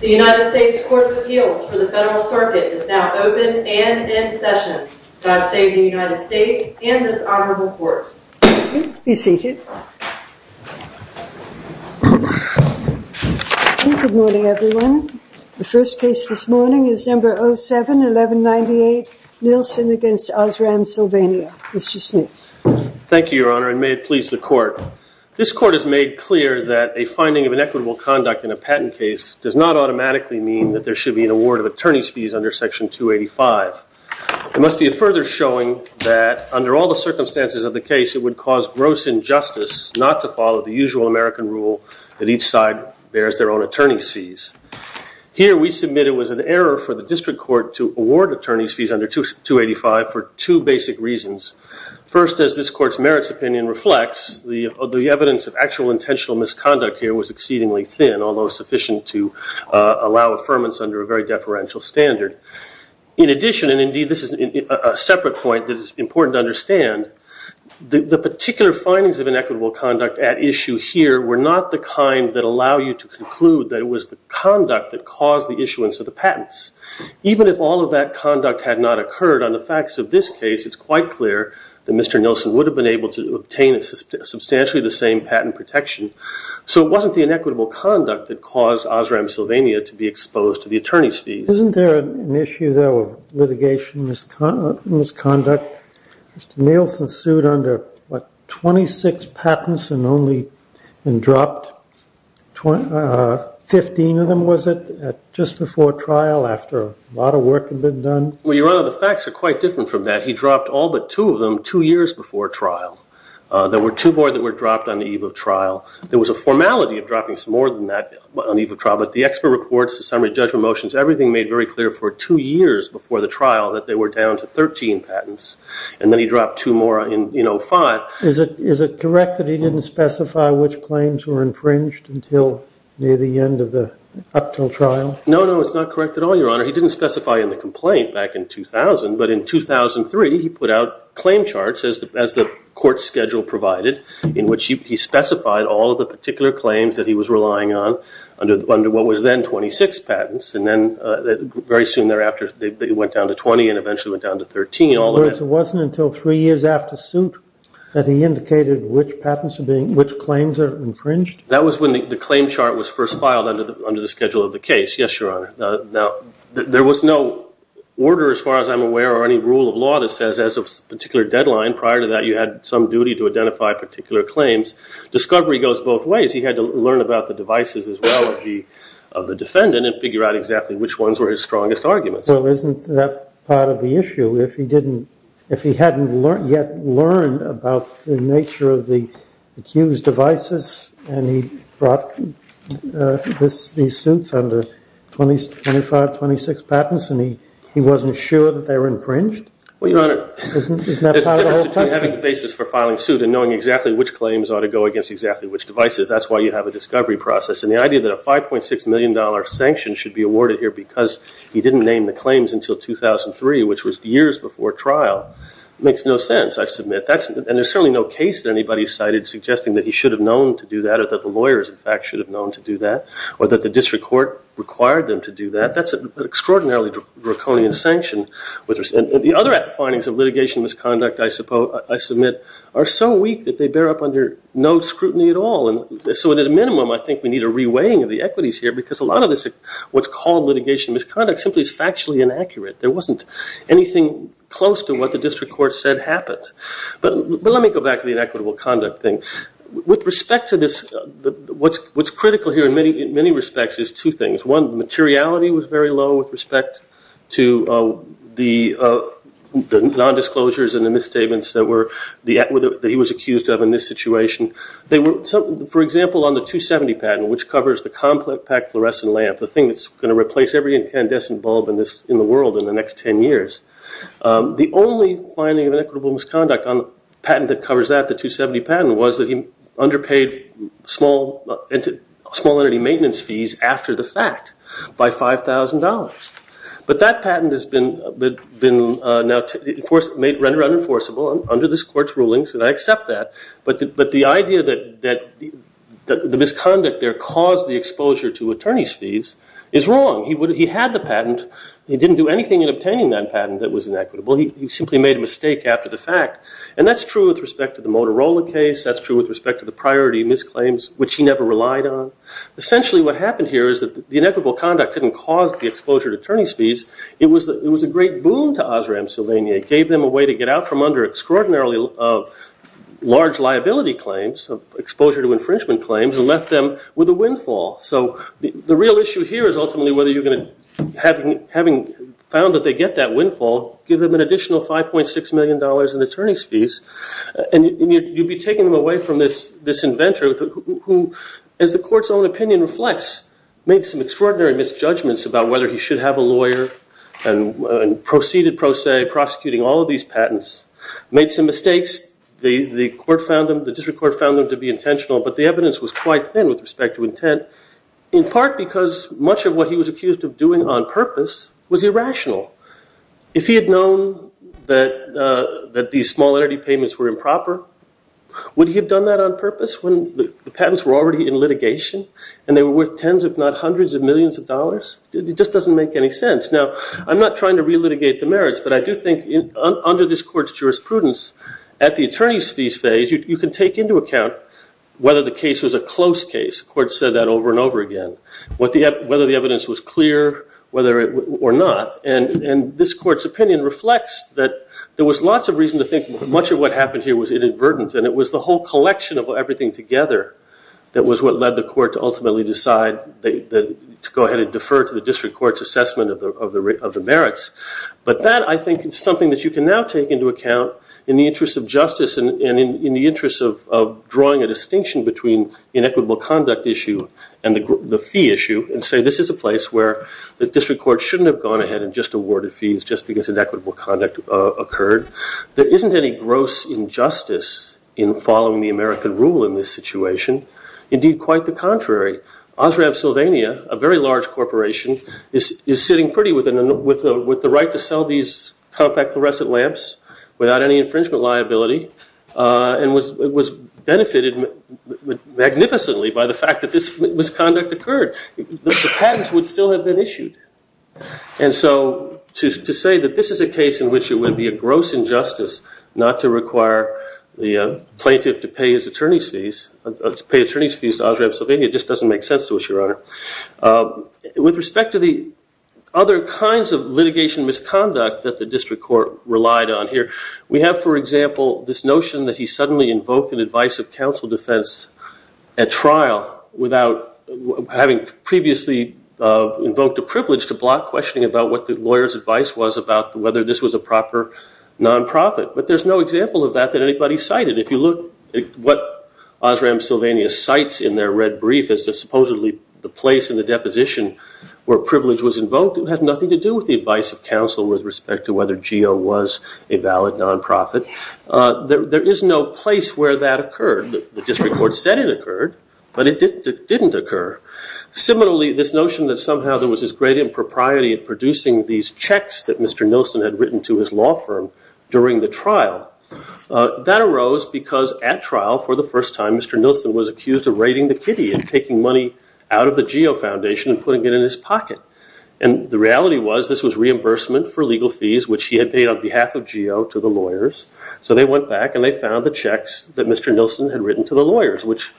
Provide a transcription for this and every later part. The United States Court of Appeals for the Federal Circuit is now open for discussion. The first case this morning is number 07-1198, Nielsen v. Osram Sylvania. Mr. Smith. Thank you, Your Honor, and may it please the Court. This Court has made clear that a finding of inequitable conduct in a patent case does not automatically mean that there should be an award of attorney's fees under Section 285. It must be further showing that, under all the circumstances of the case, it would cause gross injustice not to follow the usual American rule that each side bears their own attorney's fees. Here, we submit it was an error for the District Court to award attorney's fees under 285 for two basic reasons. First, as this Court's merits opinion reflects, the evidence of actual intentional misconduct here was exceedingly thin, although sufficient to allow affirmance under a very deferential standard. In addition, and indeed this is a separate point that is important to understand, the particular findings of inequitable conduct at issue here were not the kind that allow you to conclude that it was the conduct that caused the issuance of the patents. Even if all of that conduct had not occurred on the facts of this case, it's quite clear that Mr. Nielsen would have been able to obtain substantially the same patent protection. So it wasn't the inequitable conduct that caused Osram Sylvania to be exposed to the attorney's fees. Isn't there an issue, though, of litigation misconduct? Mr. Nielsen sued under, what, 26 patents and only dropped 15 of them, was it, just before trial, after a lot of work had been done? Well, Your Honor, the facts are quite different from that. He dropped all but two of them two years before trial. There were two more that were dropped on the eve of trial. There was a formality of dropping some more than that on the eve of trial, but the expert reports, the summary judgment motions, everything made very clear for two years before the trial that they were down to 13 patents. And then he dropped two more in, you know, five. Is it correct that he didn't specify which claims were infringed until near the end of the, up until trial? No, no, it's not correct at all, Your Honor. He didn't specify in the complaint back in 2000, but in 2003 he put out claim charts, as the court schedule provided, in which he specified all of the particular claims that he was relying on under what was then 26 patents. And then very soon thereafter it went down to 20 and eventually went down to 13. In other words, it wasn't until three years after suit that he indicated which claims were infringed? That was when the claim chart was first filed under the schedule of the case, yes, Your Honor. Now, there was no order, as far as I'm aware, or any rule of law that says as of a particular deadline prior to that you had some duty to identify particular claims. Discovery goes both ways. He had to learn about the devices as well of the defendant and figure out exactly which ones were his strongest arguments. Well, isn't that part of the issue? If he hadn't yet learned about the nature of the accused devices and he brought these suits under 25, 26 patents and he wasn't sure that they were infringed? Well, Your Honor, there's a difference between having a basis for filing suit and knowing exactly which claims ought to go against exactly which devices. That's why you have a discovery process. And the idea that a $5.6 million sanction should be awarded here because he didn't name the claims until 2003, which was years before trial, makes no sense, I submit. And there's certainly no case that anybody cited suggesting that he should have known to do that or that the lawyers, in fact, should have known to do that or that the district court required them to do that. That's an extraordinarily draconian sanction. The other findings of litigation misconduct, I submit, are so weak that they bear up under no scrutiny at all. So at a minimum, I think we need a reweighing of the equities here because a lot of what's called litigation misconduct simply is factually inaccurate. There wasn't anything close to what the district court said happened. But let me go back to the inequitable conduct thing. With respect to this, what's critical here in many respects is two things. One, the materiality was very low with respect to the nondisclosures and the misstatements that he was accused of in this situation. For example, on the 270 patent, which covers the compact fluorescent lamp, the thing that's going to replace every incandescent bulb in the world in the next 10 years, the only finding of inequitable misconduct on the patent that covers that, the 270 patent, was that he underpaid small entity maintenance fees after the fact by $5,000. But that patent has been rendered unenforceable under this court's rulings, and I accept that. But the idea that the misconduct there caused the exposure to attorney's fees is wrong. He had the patent. He didn't do anything in obtaining that patent that was inequitable. He simply made a mistake after the fact. And that's true with respect to the Motorola case. That's true with respect to the priority misclaims, which he never relied on. Essentially, what happened here is that the inequitable conduct didn't cause the exposure to attorney's fees. It was a great boon to Osram Sylvania. It gave them a way to get out from under extraordinarily large liability claims, exposure to infringement claims, and left them with a windfall. So the real issue here is ultimately whether you're going to, having found that they get that windfall, give them an additional $5.6 million in attorney's fees, and you'd be taking them away from this inventor who, as the court's own opinion reflects, made some extraordinary misjudgments about whether he should have a lawyer and proceeded, pro se, prosecuting all of these patents, made some mistakes. The court found them, the district court found them to be intentional, but the evidence was quite thin with respect to intent, in part because much of what he was accused of doing on purpose was irrational. If he had known that these small entity payments were improper, would he have done that on purpose when the patents were already in litigation and they were worth tens if not hundreds of millions of dollars? It just doesn't make any sense. Now, I'm not trying to relitigate the merits, but I do think under this court's jurisprudence at the attorney's fees phase, you can take into account whether the case was a close case. The court said that over and over again. Whether the evidence was clear or not. And this court's opinion reflects that there was lots of reason to think much of what happened here was inadvertent, and it was the whole collection of everything together that was what led the court to ultimately decide to go ahead and defer to the district court's assessment of the merits. But that, I think, is something that you can now take into account in the interest of justice and in the interest of drawing a distinction between inequitable conduct issue and the fee issue and say this is a place where the district court shouldn't have gone ahead and just awarded fees just because inequitable conduct occurred. There isn't any gross injustice in following the American rule in this situation. Indeed, quite the contrary. Osram Sylvania, a very large corporation, is sitting pretty with the right to sell these compact fluorescent lamps without any infringement liability and was benefited magnificently by the fact that this misconduct occurred. The patents would still have been issued. And so to say that this is a case in which it would be a gross injustice not to require the plaintiff to pay his attorney's fees, to pay attorney's fees to Osram Sylvania, just doesn't make sense to us, Your Honor. With respect to the other kinds of litigation misconduct that the district court relied on here, we have, for example, this notion that he suddenly invoked an advice of counsel defense at trial without having previously invoked a privilege to block questioning about what the lawyer's advice was about whether this was a proper nonprofit. But there's no example of that that anybody cited. If you look at what Osram Sylvania cites in their red brief as supposedly the place in the deposition where privilege was invoked, it had nothing to do with the advice of counsel with respect to whether GEO was a valid nonprofit. There is no place where that occurred. The district court said it occurred, but it didn't occur. Similarly, this notion that somehow there was this great impropriety in producing these checks that Mr. Nilsen had written to his law firm during the trial, that arose because at trial, for the first time, Mr. Nilsen was accused of raiding the kitty and taking money out of the GEO Foundation and putting it in his pocket. And the reality was this was reimbursement for legal fees, which he had paid on behalf of GEO to the lawyers. So they went back and they found the checks that Mr. Nilsen had written to the lawyers, which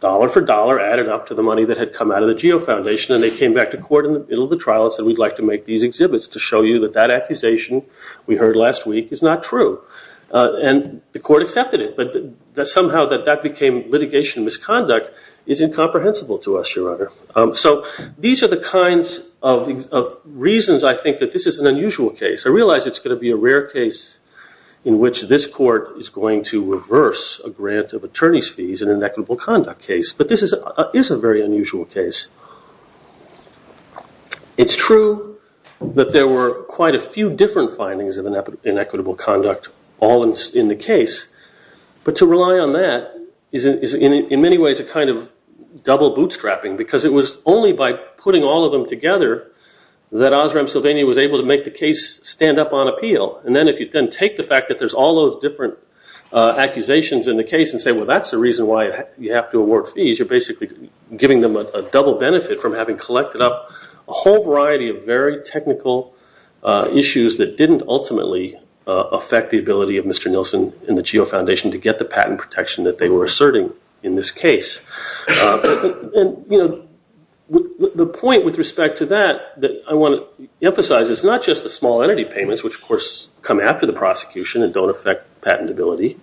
dollar for dollar added up to the money that had come out of the GEO Foundation. And they came back to court in the middle of the trial and said, we'd like to make these exhibits to show you that that accusation we heard last week is not true. And the court accepted it. But somehow that that became litigation misconduct is incomprehensible to us, Your Honor. So these are the kinds of reasons I think that this is an unusual case. I realize it's going to be a rare case in which this court is going to reverse a grant of attorney's fees in an equitable conduct case. But this is a very unusual case. It's true that there were quite a few different findings of inequitable conduct all in the case. But to rely on that is in many ways a kind of double bootstrapping, because it was only by putting all of them together that Osram Sylvania was able to make the case stand up on appeal. And then if you then take the fact that there's all those different accusations in the case and say, well, that's the reason why you have to award fees, you're basically giving them a double benefit from having collected up a whole variety of very technical issues that didn't ultimately affect the ability of Mr. Nilsen and the GEO Foundation to get the patent protection that they were asserting in this case. And the point with respect to that that I want to emphasize is not just the small entity payments, which, of course, come after the prosecution and don't affect patentability.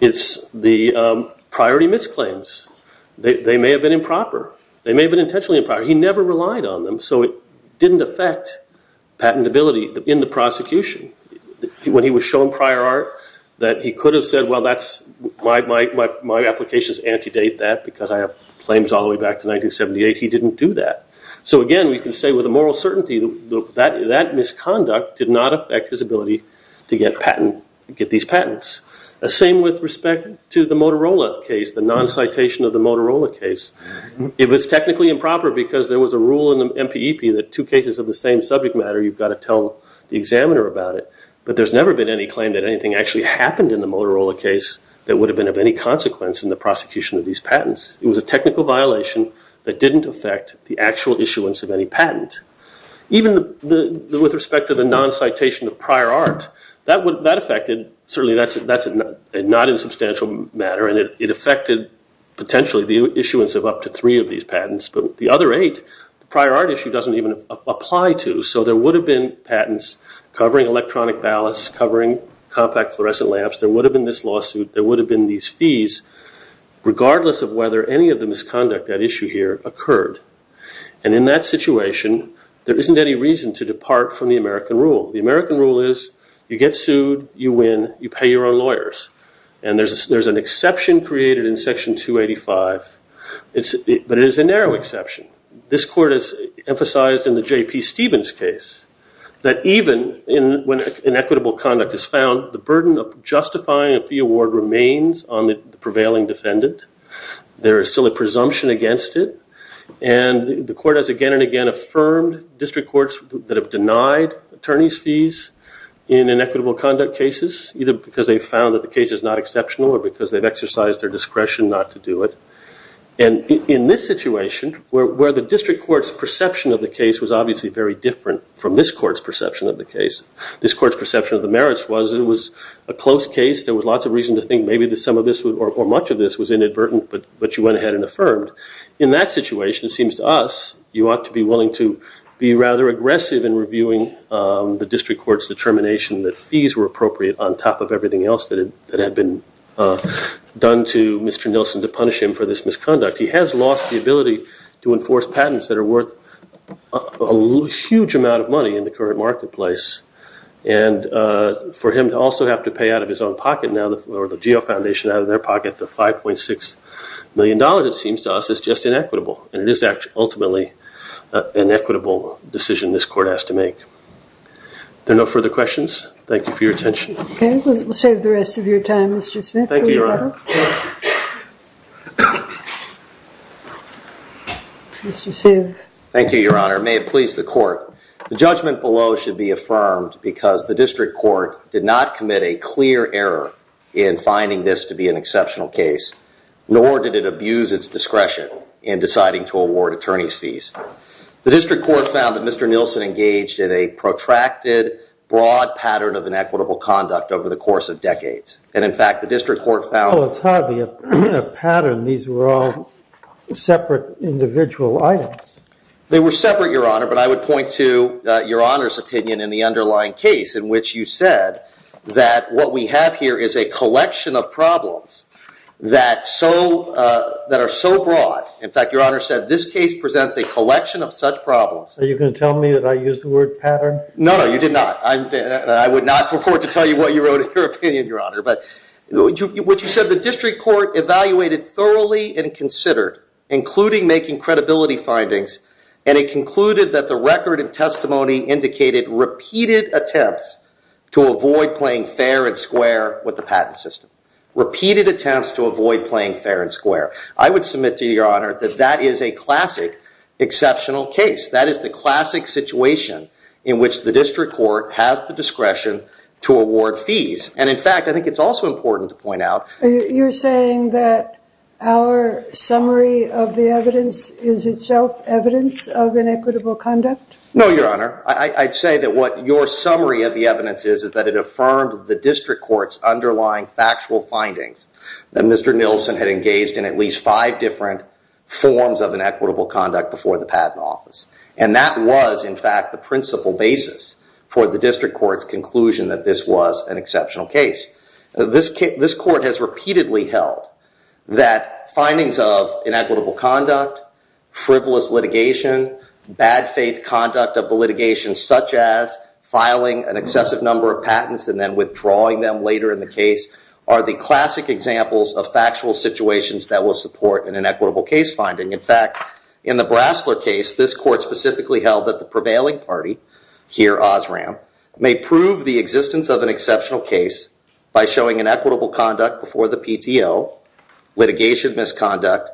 It's the priority misclaims. They may have been improper. They may have been intentionally improper. He never relied on them, so it didn't affect patentability in the prosecution. When he was shown prior art, he could have said, well, my applications antedate that because I have claims all the way back to 1978. He didn't do that. So, again, we can say with a moral certainty that that misconduct did not affect his ability to get these patents. The same with respect to the Motorola case, the non-citation of the Motorola case. It was technically improper because there was a rule in the MPEP that two cases of the same subject matter, you've got to tell the examiner about it. But there's never been any claim that anything actually happened in the Motorola case that would have been of any consequence in the prosecution of these patents. It was a technical violation that didn't affect the actual issuance of any patent. Even with respect to the non-citation of prior art, that affected, certainly that's not a substantial matter, and it affected potentially the issuance of up to three of these patents. But the other eight, the prior art issue doesn't even apply to. So there would have been patents covering electronic ballasts, covering compact fluorescent lamps. There would have been this lawsuit. There would have been these fees, regardless of whether any of the misconduct at issue here occurred. And in that situation, there isn't any reason to depart from the American rule. The American rule is you get sued, you win, you pay your own lawyers. And there's an exception created in Section 285, but it is a narrow exception. This court has emphasized in the J.P. Stevens case that even when inequitable conduct is found, the burden of justifying a fee award remains on the prevailing defendant. There is still a presumption against it. And the court has again and again affirmed district courts that have denied attorneys' fees in inequitable conduct cases, either because they found that the case is not exceptional or because they've exercised their discretion not to do it. And in this situation, where the district court's perception of the case was obviously very different from this court's perception of the case, this court's perception of the merits was it was a close case. There was lots of reason to think maybe some of this or much of this was inadvertent, but you went ahead and affirmed. In that situation, it seems to us you ought to be willing to be rather aggressive in reviewing the district court's determination that fees were appropriate on top of everything else that had been done to Mr. Nilsen to punish him for this misconduct. He has lost the ability to enforce patents that are worth a huge amount of money in the current marketplace. And for him to also have to pay out of his own pocket now, or the GEO Foundation out of their pocket, the $5.6 million, it seems to us, is just inequitable. And it is ultimately an equitable decision this court has to make. There are no further questions. Thank you for your attention. OK. We'll save the rest of your time, Mr. Smith. Thank you, Your Honor. Mr. Smith. Thank you, Your Honor. It may have pleased the court. The judgment below should be affirmed because the district court did not commit a clear error in finding this to be an exceptional case, nor did it abuse its discretion in deciding to award attorney's fees. The district court found that Mr. Nilsen engaged in a protracted, broad pattern of inequitable conduct over the course of decades. And, in fact, the district court found- Well, it's hardly a pattern. These were all separate individual items. They were separate, Your Honor, but I would point to Your Honor's opinion in the underlying case, in which you said that what we have here is a collection of problems that are so broad. In fact, Your Honor said this case presents a collection of such problems. Are you going to tell me that I used the word pattern? No, no. You did not. I would not purport to tell you what you wrote in your opinion, Your Honor. But what you said, the district court evaluated thoroughly and considered, including making credibility findings, and it concluded that the record of testimony indicated repeated attempts to avoid playing fair and square with the patent system, repeated attempts to avoid playing fair and square. I would submit to Your Honor that that is a classic exceptional case. That is the classic situation in which the district court has the discretion to award fees. And, in fact, I think it's also important to point out- You're saying that our summary of the evidence is itself evidence of inequitable conduct? No, Your Honor. I'd say that what your summary of the evidence is is that it affirmed the district court's underlying factual findings, that Mr. Nilsen had engaged in at least five different forms of inequitable conduct before the patent office. And that was, in fact, the principal basis for the district court's conclusion that this was an exceptional case. This court has repeatedly held that findings of inequitable conduct, frivolous litigation, bad faith conduct of the litigation, such as filing an excessive number of patents and then withdrawing them later in the case, are the classic examples of factual situations that will support an inequitable case finding. In fact, in the Brasler case, this court specifically held that the prevailing party, here Osram, may prove the existence of an exceptional case by showing inequitable conduct before the PTO, litigation misconduct,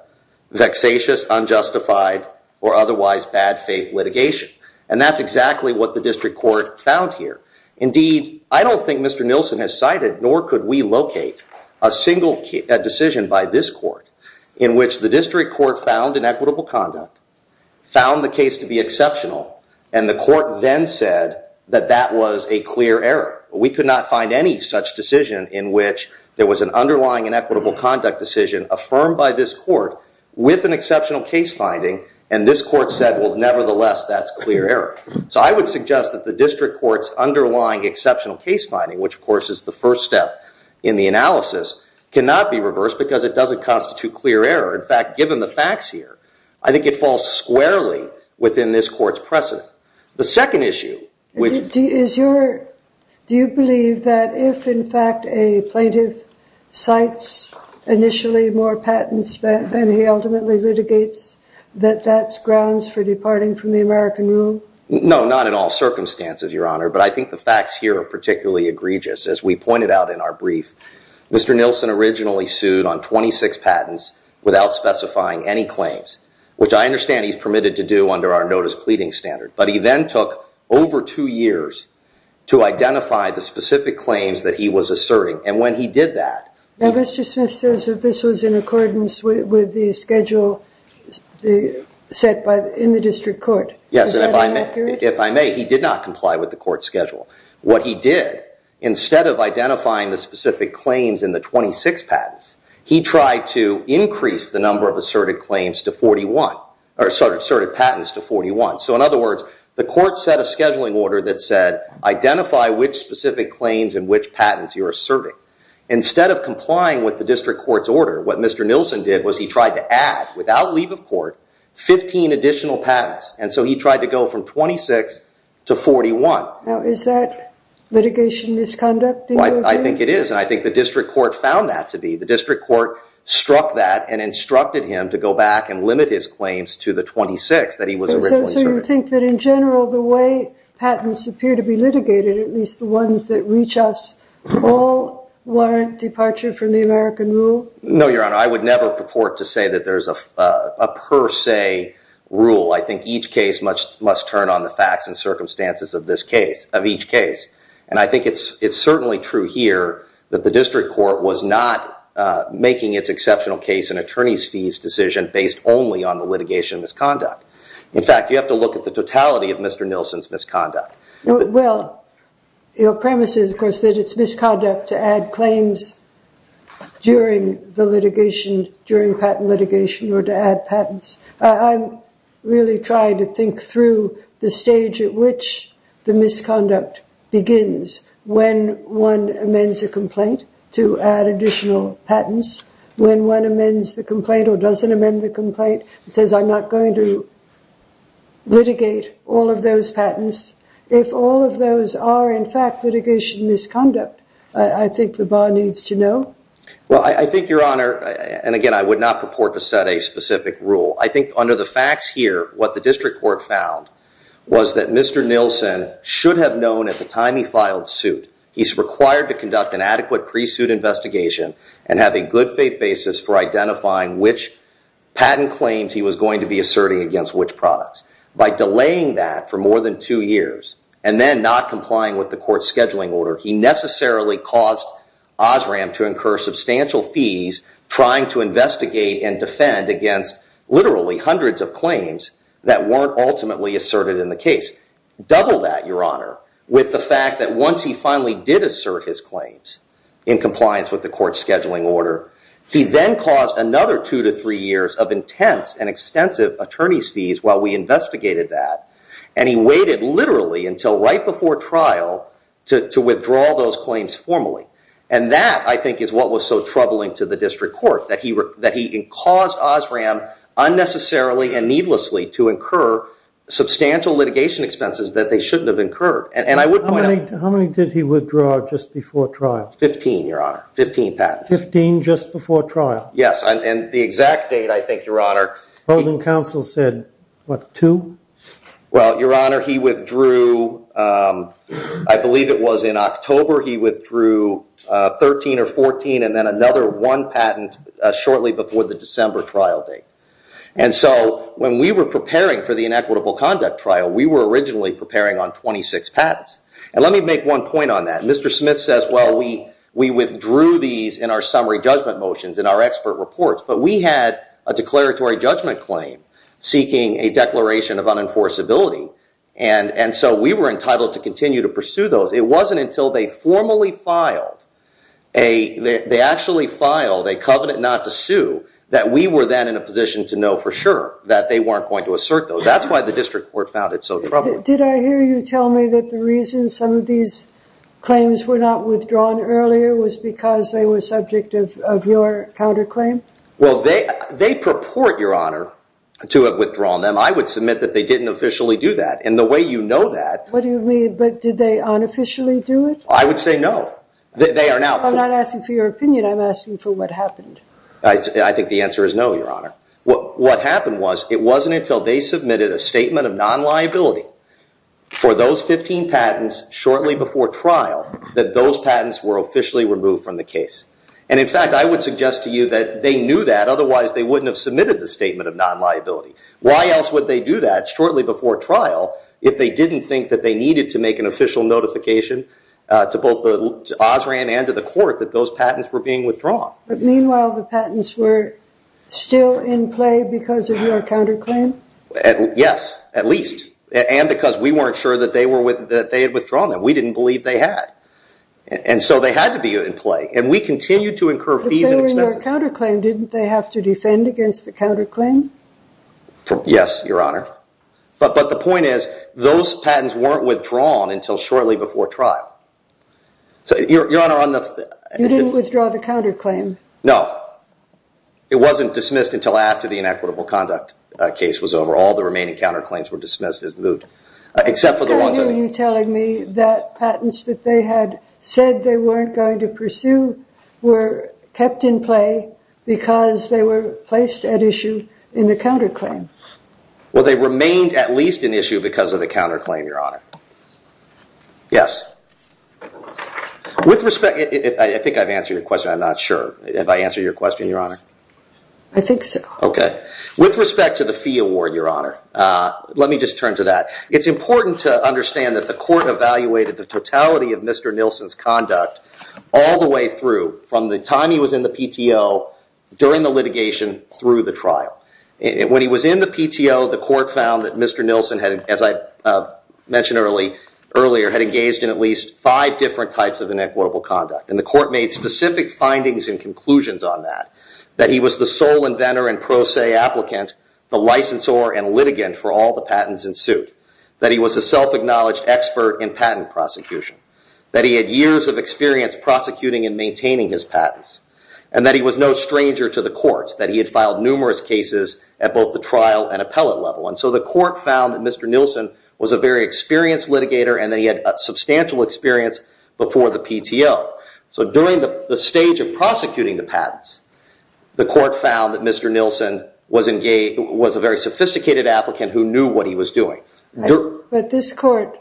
vexatious, unjustified, or otherwise bad faith litigation. And that's exactly what the district court found here. Indeed, I don't think Mr. Nilsen has cited, nor could we locate, a single decision by this court in which the district court found inequitable conduct, found the case to be exceptional, and the court then said that that was a clear error. We could not find any such decision in which there was an underlying inequitable conduct decision affirmed by this court with an exceptional case finding, and this court said, well, nevertheless, that's clear error. So I would suggest that the district court's underlying exceptional case finding, which, of course, is the first step in the analysis, cannot be reversed because it doesn't constitute clear error. In fact, given the facts here, I think it falls squarely within this court's precedent. The second issue, which- Do you believe that if, in fact, a plaintiff cites initially more patents than he ultimately litigates, that that's grounds for departing from the American rule? No, not in all circumstances, Your Honor, but I think the facts here are particularly egregious. As we pointed out in our brief, Mr. Nilsen originally sued on 26 patents without specifying any claims, which I understand he's permitted to do under our notice pleading standard, but he then took over two years to identify the specific claims that he was asserting. And when he did that- Now, Mr. Smith says that this was in accordance with the schedule set in the district court. Yes, and if I may, he did not comply with the court schedule. What he did, instead of identifying the specific claims in the 26 patents, he tried to increase the number of asserted patents to 41. So, in other words, the court set a scheduling order that said, identify which specific claims and which patents you're asserting. Instead of complying with the district court's order, what Mr. Nilsen did was he tried to add, without leave of court, 15 additional patents. And so he tried to go from 26 to 41. Now, is that litigation misconduct? I think it is, and I think the district court found that to be. The district court struck that and instructed him to go back and limit his claims to the 26 that he was originally serving. So you think that, in general, the way patents appear to be litigated, at least the ones that reach us, all warrant departure from the American rule? No, Your Honor. I would never purport to say that there's a per se rule. I think each case must turn on the facts and circumstances of each case. And I think it's certainly true here that the district court was not making its exceptional case an attorney's fees decision based only on the litigation misconduct. In fact, you have to look at the totality of Mr. Nilsen's misconduct. Well, your premise is, of course, that it's misconduct to add claims during the litigation, during patent litigation, or to add patents. I'm really trying to think through the stage at which the misconduct begins. When one amends a complaint to add additional patents, when one amends the complaint or doesn't amend the complaint, and says, I'm not going to litigate all of those patents, if all of those are, in fact, litigation misconduct, I think the bar needs to know. Well, I think, Your Honor, and again, I would not purport to set a specific rule. I think under the facts here, what the district court found was that Mr. Nilsen should have known at the time he filed suit he's required to conduct an adequate pre-suit investigation and have a good faith basis for identifying which patent claims he was going to be asserting against which products. By delaying that for more than two years, and then not complying with the court's scheduling order, he necessarily caused Osram to incur substantial fees trying to investigate and defend against, literally, hundreds of claims that weren't ultimately asserted in the case. Double that, Your Honor, with the fact that once he finally did assert his claims in compliance with the court's scheduling order, he then caused another two to three years of intense and extensive attorney's fees while we investigated that. And he waited, literally, until right before trial to withdraw those claims formally. And that, I think, is what was so troubling to the district court, that he caused Osram unnecessarily and needlessly to incur substantial litigation expenses that they shouldn't have incurred. And I would point out- How many did he withdraw just before trial? Fifteen, Your Honor. Fifteen patents. Fifteen just before trial? Yes, and the exact date, I think, Your Honor- The opposing counsel said, what, two? Well, Your Honor, he withdrew, I believe it was in October, he withdrew 13 or 14 and then another one patent shortly before the December trial date. And so when we were preparing for the inequitable conduct trial, we were originally preparing on 26 patents. And let me make one point on that. Mr. Smith says, well, we withdrew these in our summary judgment motions, in our expert reports, but we had a declaratory judgment claim seeking a declaration of unenforceability. And so we were entitled to continue to pursue those. It wasn't until they formally filed a- they actually filed a covenant not to sue that we were then in a position to know for sure that they weren't going to assert those. That's why the district court found it so troubling. Did I hear you tell me that the reason some of these claims were not withdrawn earlier was because they were subject of your counterclaim? Well, they purport, Your Honor, to have withdrawn them. I would submit that they didn't officially do that. And the way you know that- What do you mean? But did they unofficially do it? I would say no. They are now- I'm not asking for your opinion. I'm asking for what happened. I think the answer is no, Your Honor. What happened was it wasn't until they submitted a statement of non-liability for those 15 patents shortly before trial that those patents were officially removed from the case. And, in fact, I would suggest to you that they knew that, otherwise they wouldn't have submitted the statement of non-liability. Why else would they do that shortly before trial if they didn't think that they needed to make an official notification to both the OSRAN and to the court that those patents were being withdrawn? But, meanwhile, the patents were still in play because of your counterclaim? Yes, at least. And because we weren't sure that they had withdrawn them. We didn't believe they had. And so they had to be in play. And we continued to incur fees and expenses. But on the counterclaim, didn't they have to defend against the counterclaim? Yes, Your Honor. But the point is those patents weren't withdrawn until shortly before trial. Your Honor, on the- You didn't withdraw the counterclaim? No. It wasn't dismissed until after the inequitable conduct case was over. All the remaining counterclaims were dismissed as moot, except for the ones- I can't hear you telling me that patents that they had said they weren't going to pursue were kept in play because they were placed at issue in the counterclaim. Well, they remained at least an issue because of the counterclaim, Your Honor. Yes. With respect- I think I've answered your question. I'm not sure. Have I answered your question, Your Honor? I think so. Okay. With respect to the fee award, Your Honor, let me just turn to that. It's important to understand that the court evaluated the totality of Mr. Nilsen's conduct all the way through from the time he was in the PTO, during the litigation, through the trial. When he was in the PTO, the court found that Mr. Nilsen, as I mentioned earlier, had engaged in at least five different types of inequitable conduct. And the court made specific findings and conclusions on that, that he was the sole inventor and pro se applicant, the licensor and litigant for all the patents in suit, that he was a self-acknowledged expert in patent prosecution, that he had years of experience prosecuting and maintaining his patents, and that he was no stranger to the courts, that he had filed numerous cases at both the trial and appellate level. And so the court found that Mr. Nilsen was a very experienced litigator and that he had substantial experience before the PTO. So during the stage of prosecuting the patents, the court found that Mr. Nilsen was a very sophisticated applicant who knew what he was doing. But this court,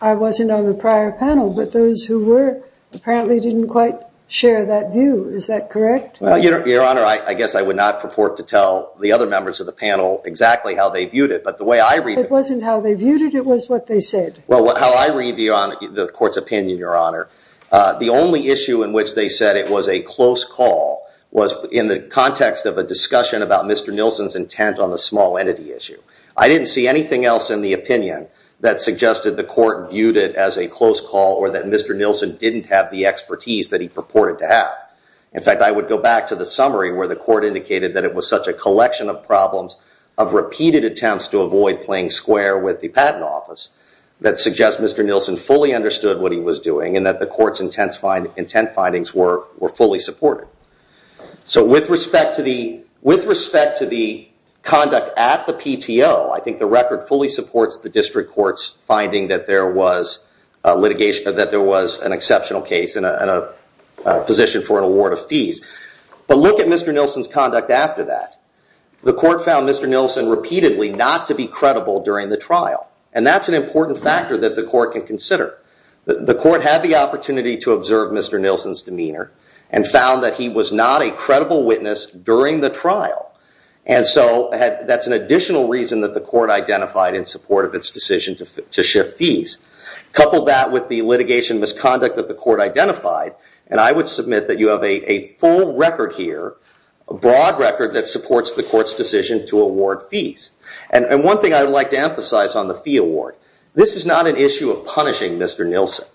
I wasn't on the prior panel, but those who were apparently didn't quite share that view. Is that correct? Well, Your Honor, I guess I would not purport to tell the other members of the panel exactly how they viewed it, but the way I read it. It wasn't how they viewed it, it was what they said. Well, how I read the court's opinion, Your Honor, the only issue in which they said it was a close call was in the context of a discussion about Mr. Nilsen's intent on the small entity issue. I didn't see anything else in the opinion that suggested the court viewed it as a close call or that Mr. Nilsen didn't have the expertise that he purported to have. In fact, I would go back to the summary where the court indicated that it was such a collection of problems of repeated attempts to avoid playing square with the patent office that suggests Mr. Nilsen fully understood what he was doing and that the court's intent findings were fully supported. So with respect to the conduct at the PTO, I think the record fully supports the district court's finding that there was litigation, that there was an exceptional case and a position for an award of fees. But look at Mr. Nilsen's conduct after that. The court found Mr. Nilsen repeatedly not to be credible during the trial and that's an important factor that the court can consider. The court had the opportunity to observe Mr. Nilsen's demeanor and found that he was not a credible witness during the trial. And so that's an additional reason that the court identified in support of its decision to shift fees. Couple that with the litigation misconduct that the court identified and I would submit that you have a full record here, a broad record that supports the court's decision to award fees. And one thing I would like to emphasize on the fee award, this is not an issue of punishing Mr. Nilsen.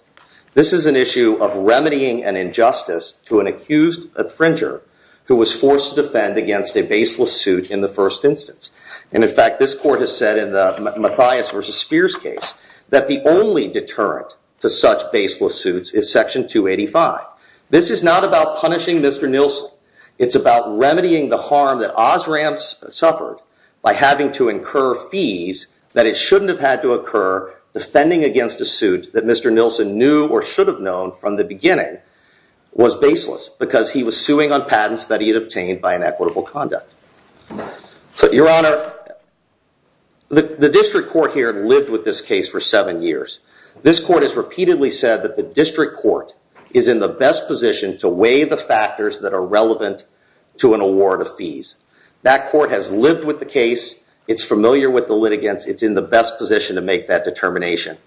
This is an issue of remedying an injustice to an accused infringer who was forced to defend against a baseless suit in the first instance. And in fact, this court has said in the Mathias v. Spears case that the only deterrent to such baseless suits is Section 285. This is not about punishing Mr. Nilsen. It's about remedying the harm that Osram suffered by having to incur fees that it shouldn't have had to occur defending against a suit that Mr. Nilsen knew or should have known from the beginning was baseless because he was suing on patents that he had obtained by inequitable conduct. Your Honor, the district court here lived with this case for seven years. This court has repeatedly said that the district court is in the best position to weigh the factors that are relevant to an award of fees. That court has lived with the case. It's familiar with the litigants. It's in the best position to make that determination.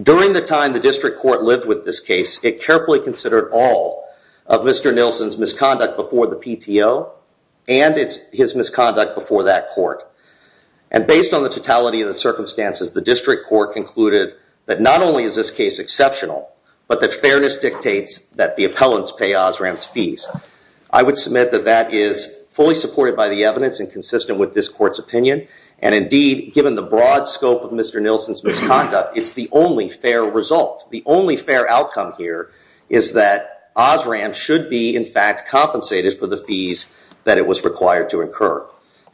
During the time the district court lived with this case, it carefully considered all of Mr. Nilsen's misconduct before the PTO and his misconduct before that court. And based on the totality of the circumstances, the district court concluded that not only is this case exceptional, but that fairness dictates that the appellants pay Osram's fees. I would submit that that is fully supported by the evidence and consistent with this court's opinion. And, indeed, given the broad scope of Mr. Nilsen's misconduct, it's the only fair result. The only fair outcome here is that Osram should be, in fact, compensated for the fees that it was required to incur.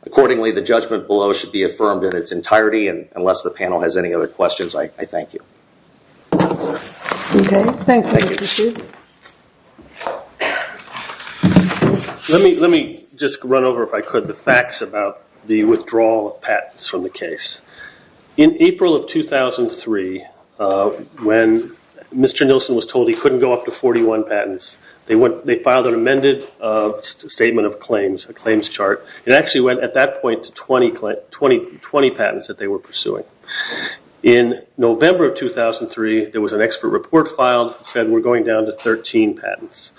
Accordingly, the judgment below should be affirmed in its entirety, and unless the panel has any other questions, I thank you. Okay. Thank you, Mr. Sheehan. Let me just run over, if I could, the facts about the withdrawal of patents from the case. In April of 2003, when Mr. Nilsen was told he couldn't go up to 41 patents, they filed an amended statement of claims, a claims chart. It actually went, at that point, to 20 patents that they were pursuing. In November of 2003, there was an expert report filed that said we're going down to 13 patents.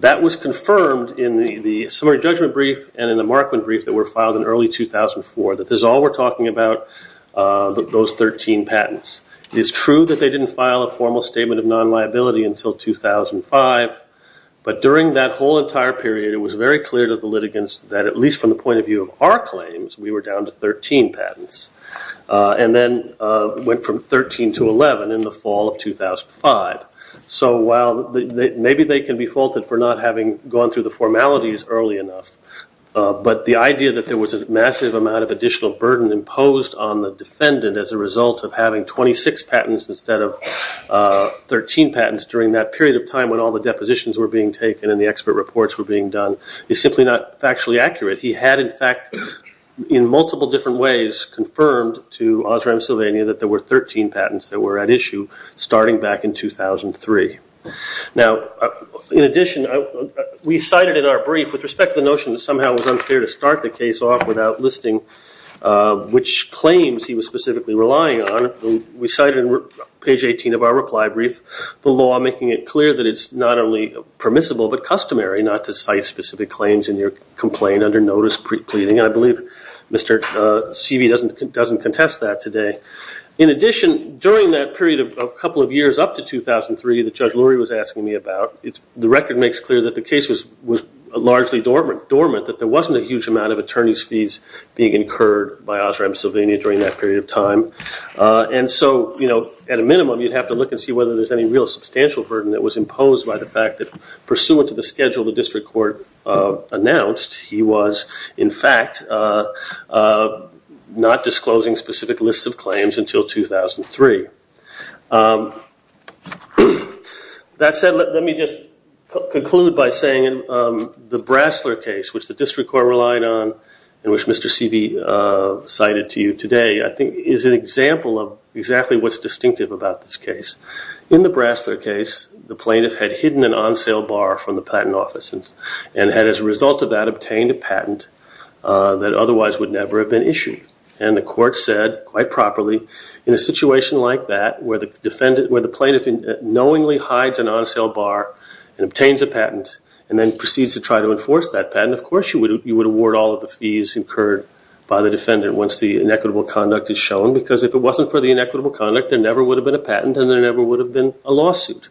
That was confirmed in the summary judgment brief and in the Markman brief that were filed in early 2004, that this is all we're talking about, those 13 patents. It is true that they didn't file a formal statement of non-liability until 2005, but during that whole entire period, it was very clear to the litigants that, at least from the point of view of our claims, we were down to 13 patents, and then went from 13 to 11 in the fall of 2005. So while maybe they can be faulted for not having gone through the formalities early enough, but the idea that there was a massive amount of additional burden imposed on the defendant as a result of having 26 patents instead of 13 patents during that period of time when all the depositions were being taken and the expert reports were being done is simply not factually accurate. He had, in fact, in multiple different ways, confirmed to Osram Sylvania that there were 13 patents that were at issue starting back in 2003. Now, in addition, we cited in our brief with respect to the notion that somehow it was unfair to start the case off without listing which claims he was specifically relying on. We cited in page 18 of our reply brief the law making it clear that it's not only permissible but customary not to cite specific claims in your complaint under notice pre-pleading. I believe Mr. Seavey doesn't contest that today. In addition, during that period of a couple of years up to 2003 that Judge Lurie was asking me about, the record makes clear that the case was largely dormant, that there wasn't a huge amount of attorney's fees being incurred by Osram Sylvania during that period of time. And so, at a minimum, you'd have to look and see whether there's any real substantial burden that was imposed by the fact that, pursuant to the schedule the district court announced, he was, in fact, not disclosing specific lists of claims until 2003. That said, let me just conclude by saying the Brasler case, which the district court relied on and which Mr. Seavey cited to you today, I think is an example of exactly what's distinctive about this case. In the Brasler case, the plaintiff had hidden an on-sale bar from the patent office and had, as a result of that, obtained a patent that otherwise would never have been issued. And the court said, quite properly, in a situation like that, where the plaintiff knowingly hides an on-sale bar and obtains a patent and then proceeds to try to enforce that patent, of course you would award all of the fees incurred by the defendant once the inequitable conduct is shown. Because if it wasn't for the inequitable conduct, there never would have been a patent and there never would have been a lawsuit.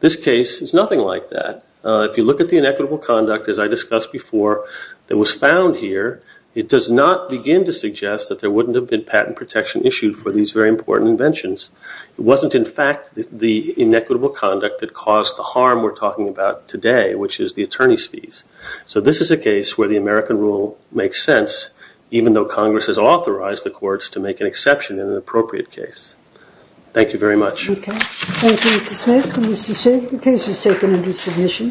This case is nothing like that. If you look at the inequitable conduct, as I discussed before, that was found here, it does not begin to suggest that there wouldn't have been patent protection issued for these very important inventions. It wasn't, in fact, the inequitable conduct that caused the harm we're talking about today, which is the attorney's fees. So this is a case where the American rule makes sense, even though Congress has authorized the courts to make an exception in an appropriate case. Thank you very much. Okay. Thank you, Mr. Smith and Mr. Singh. The case is taken under submission.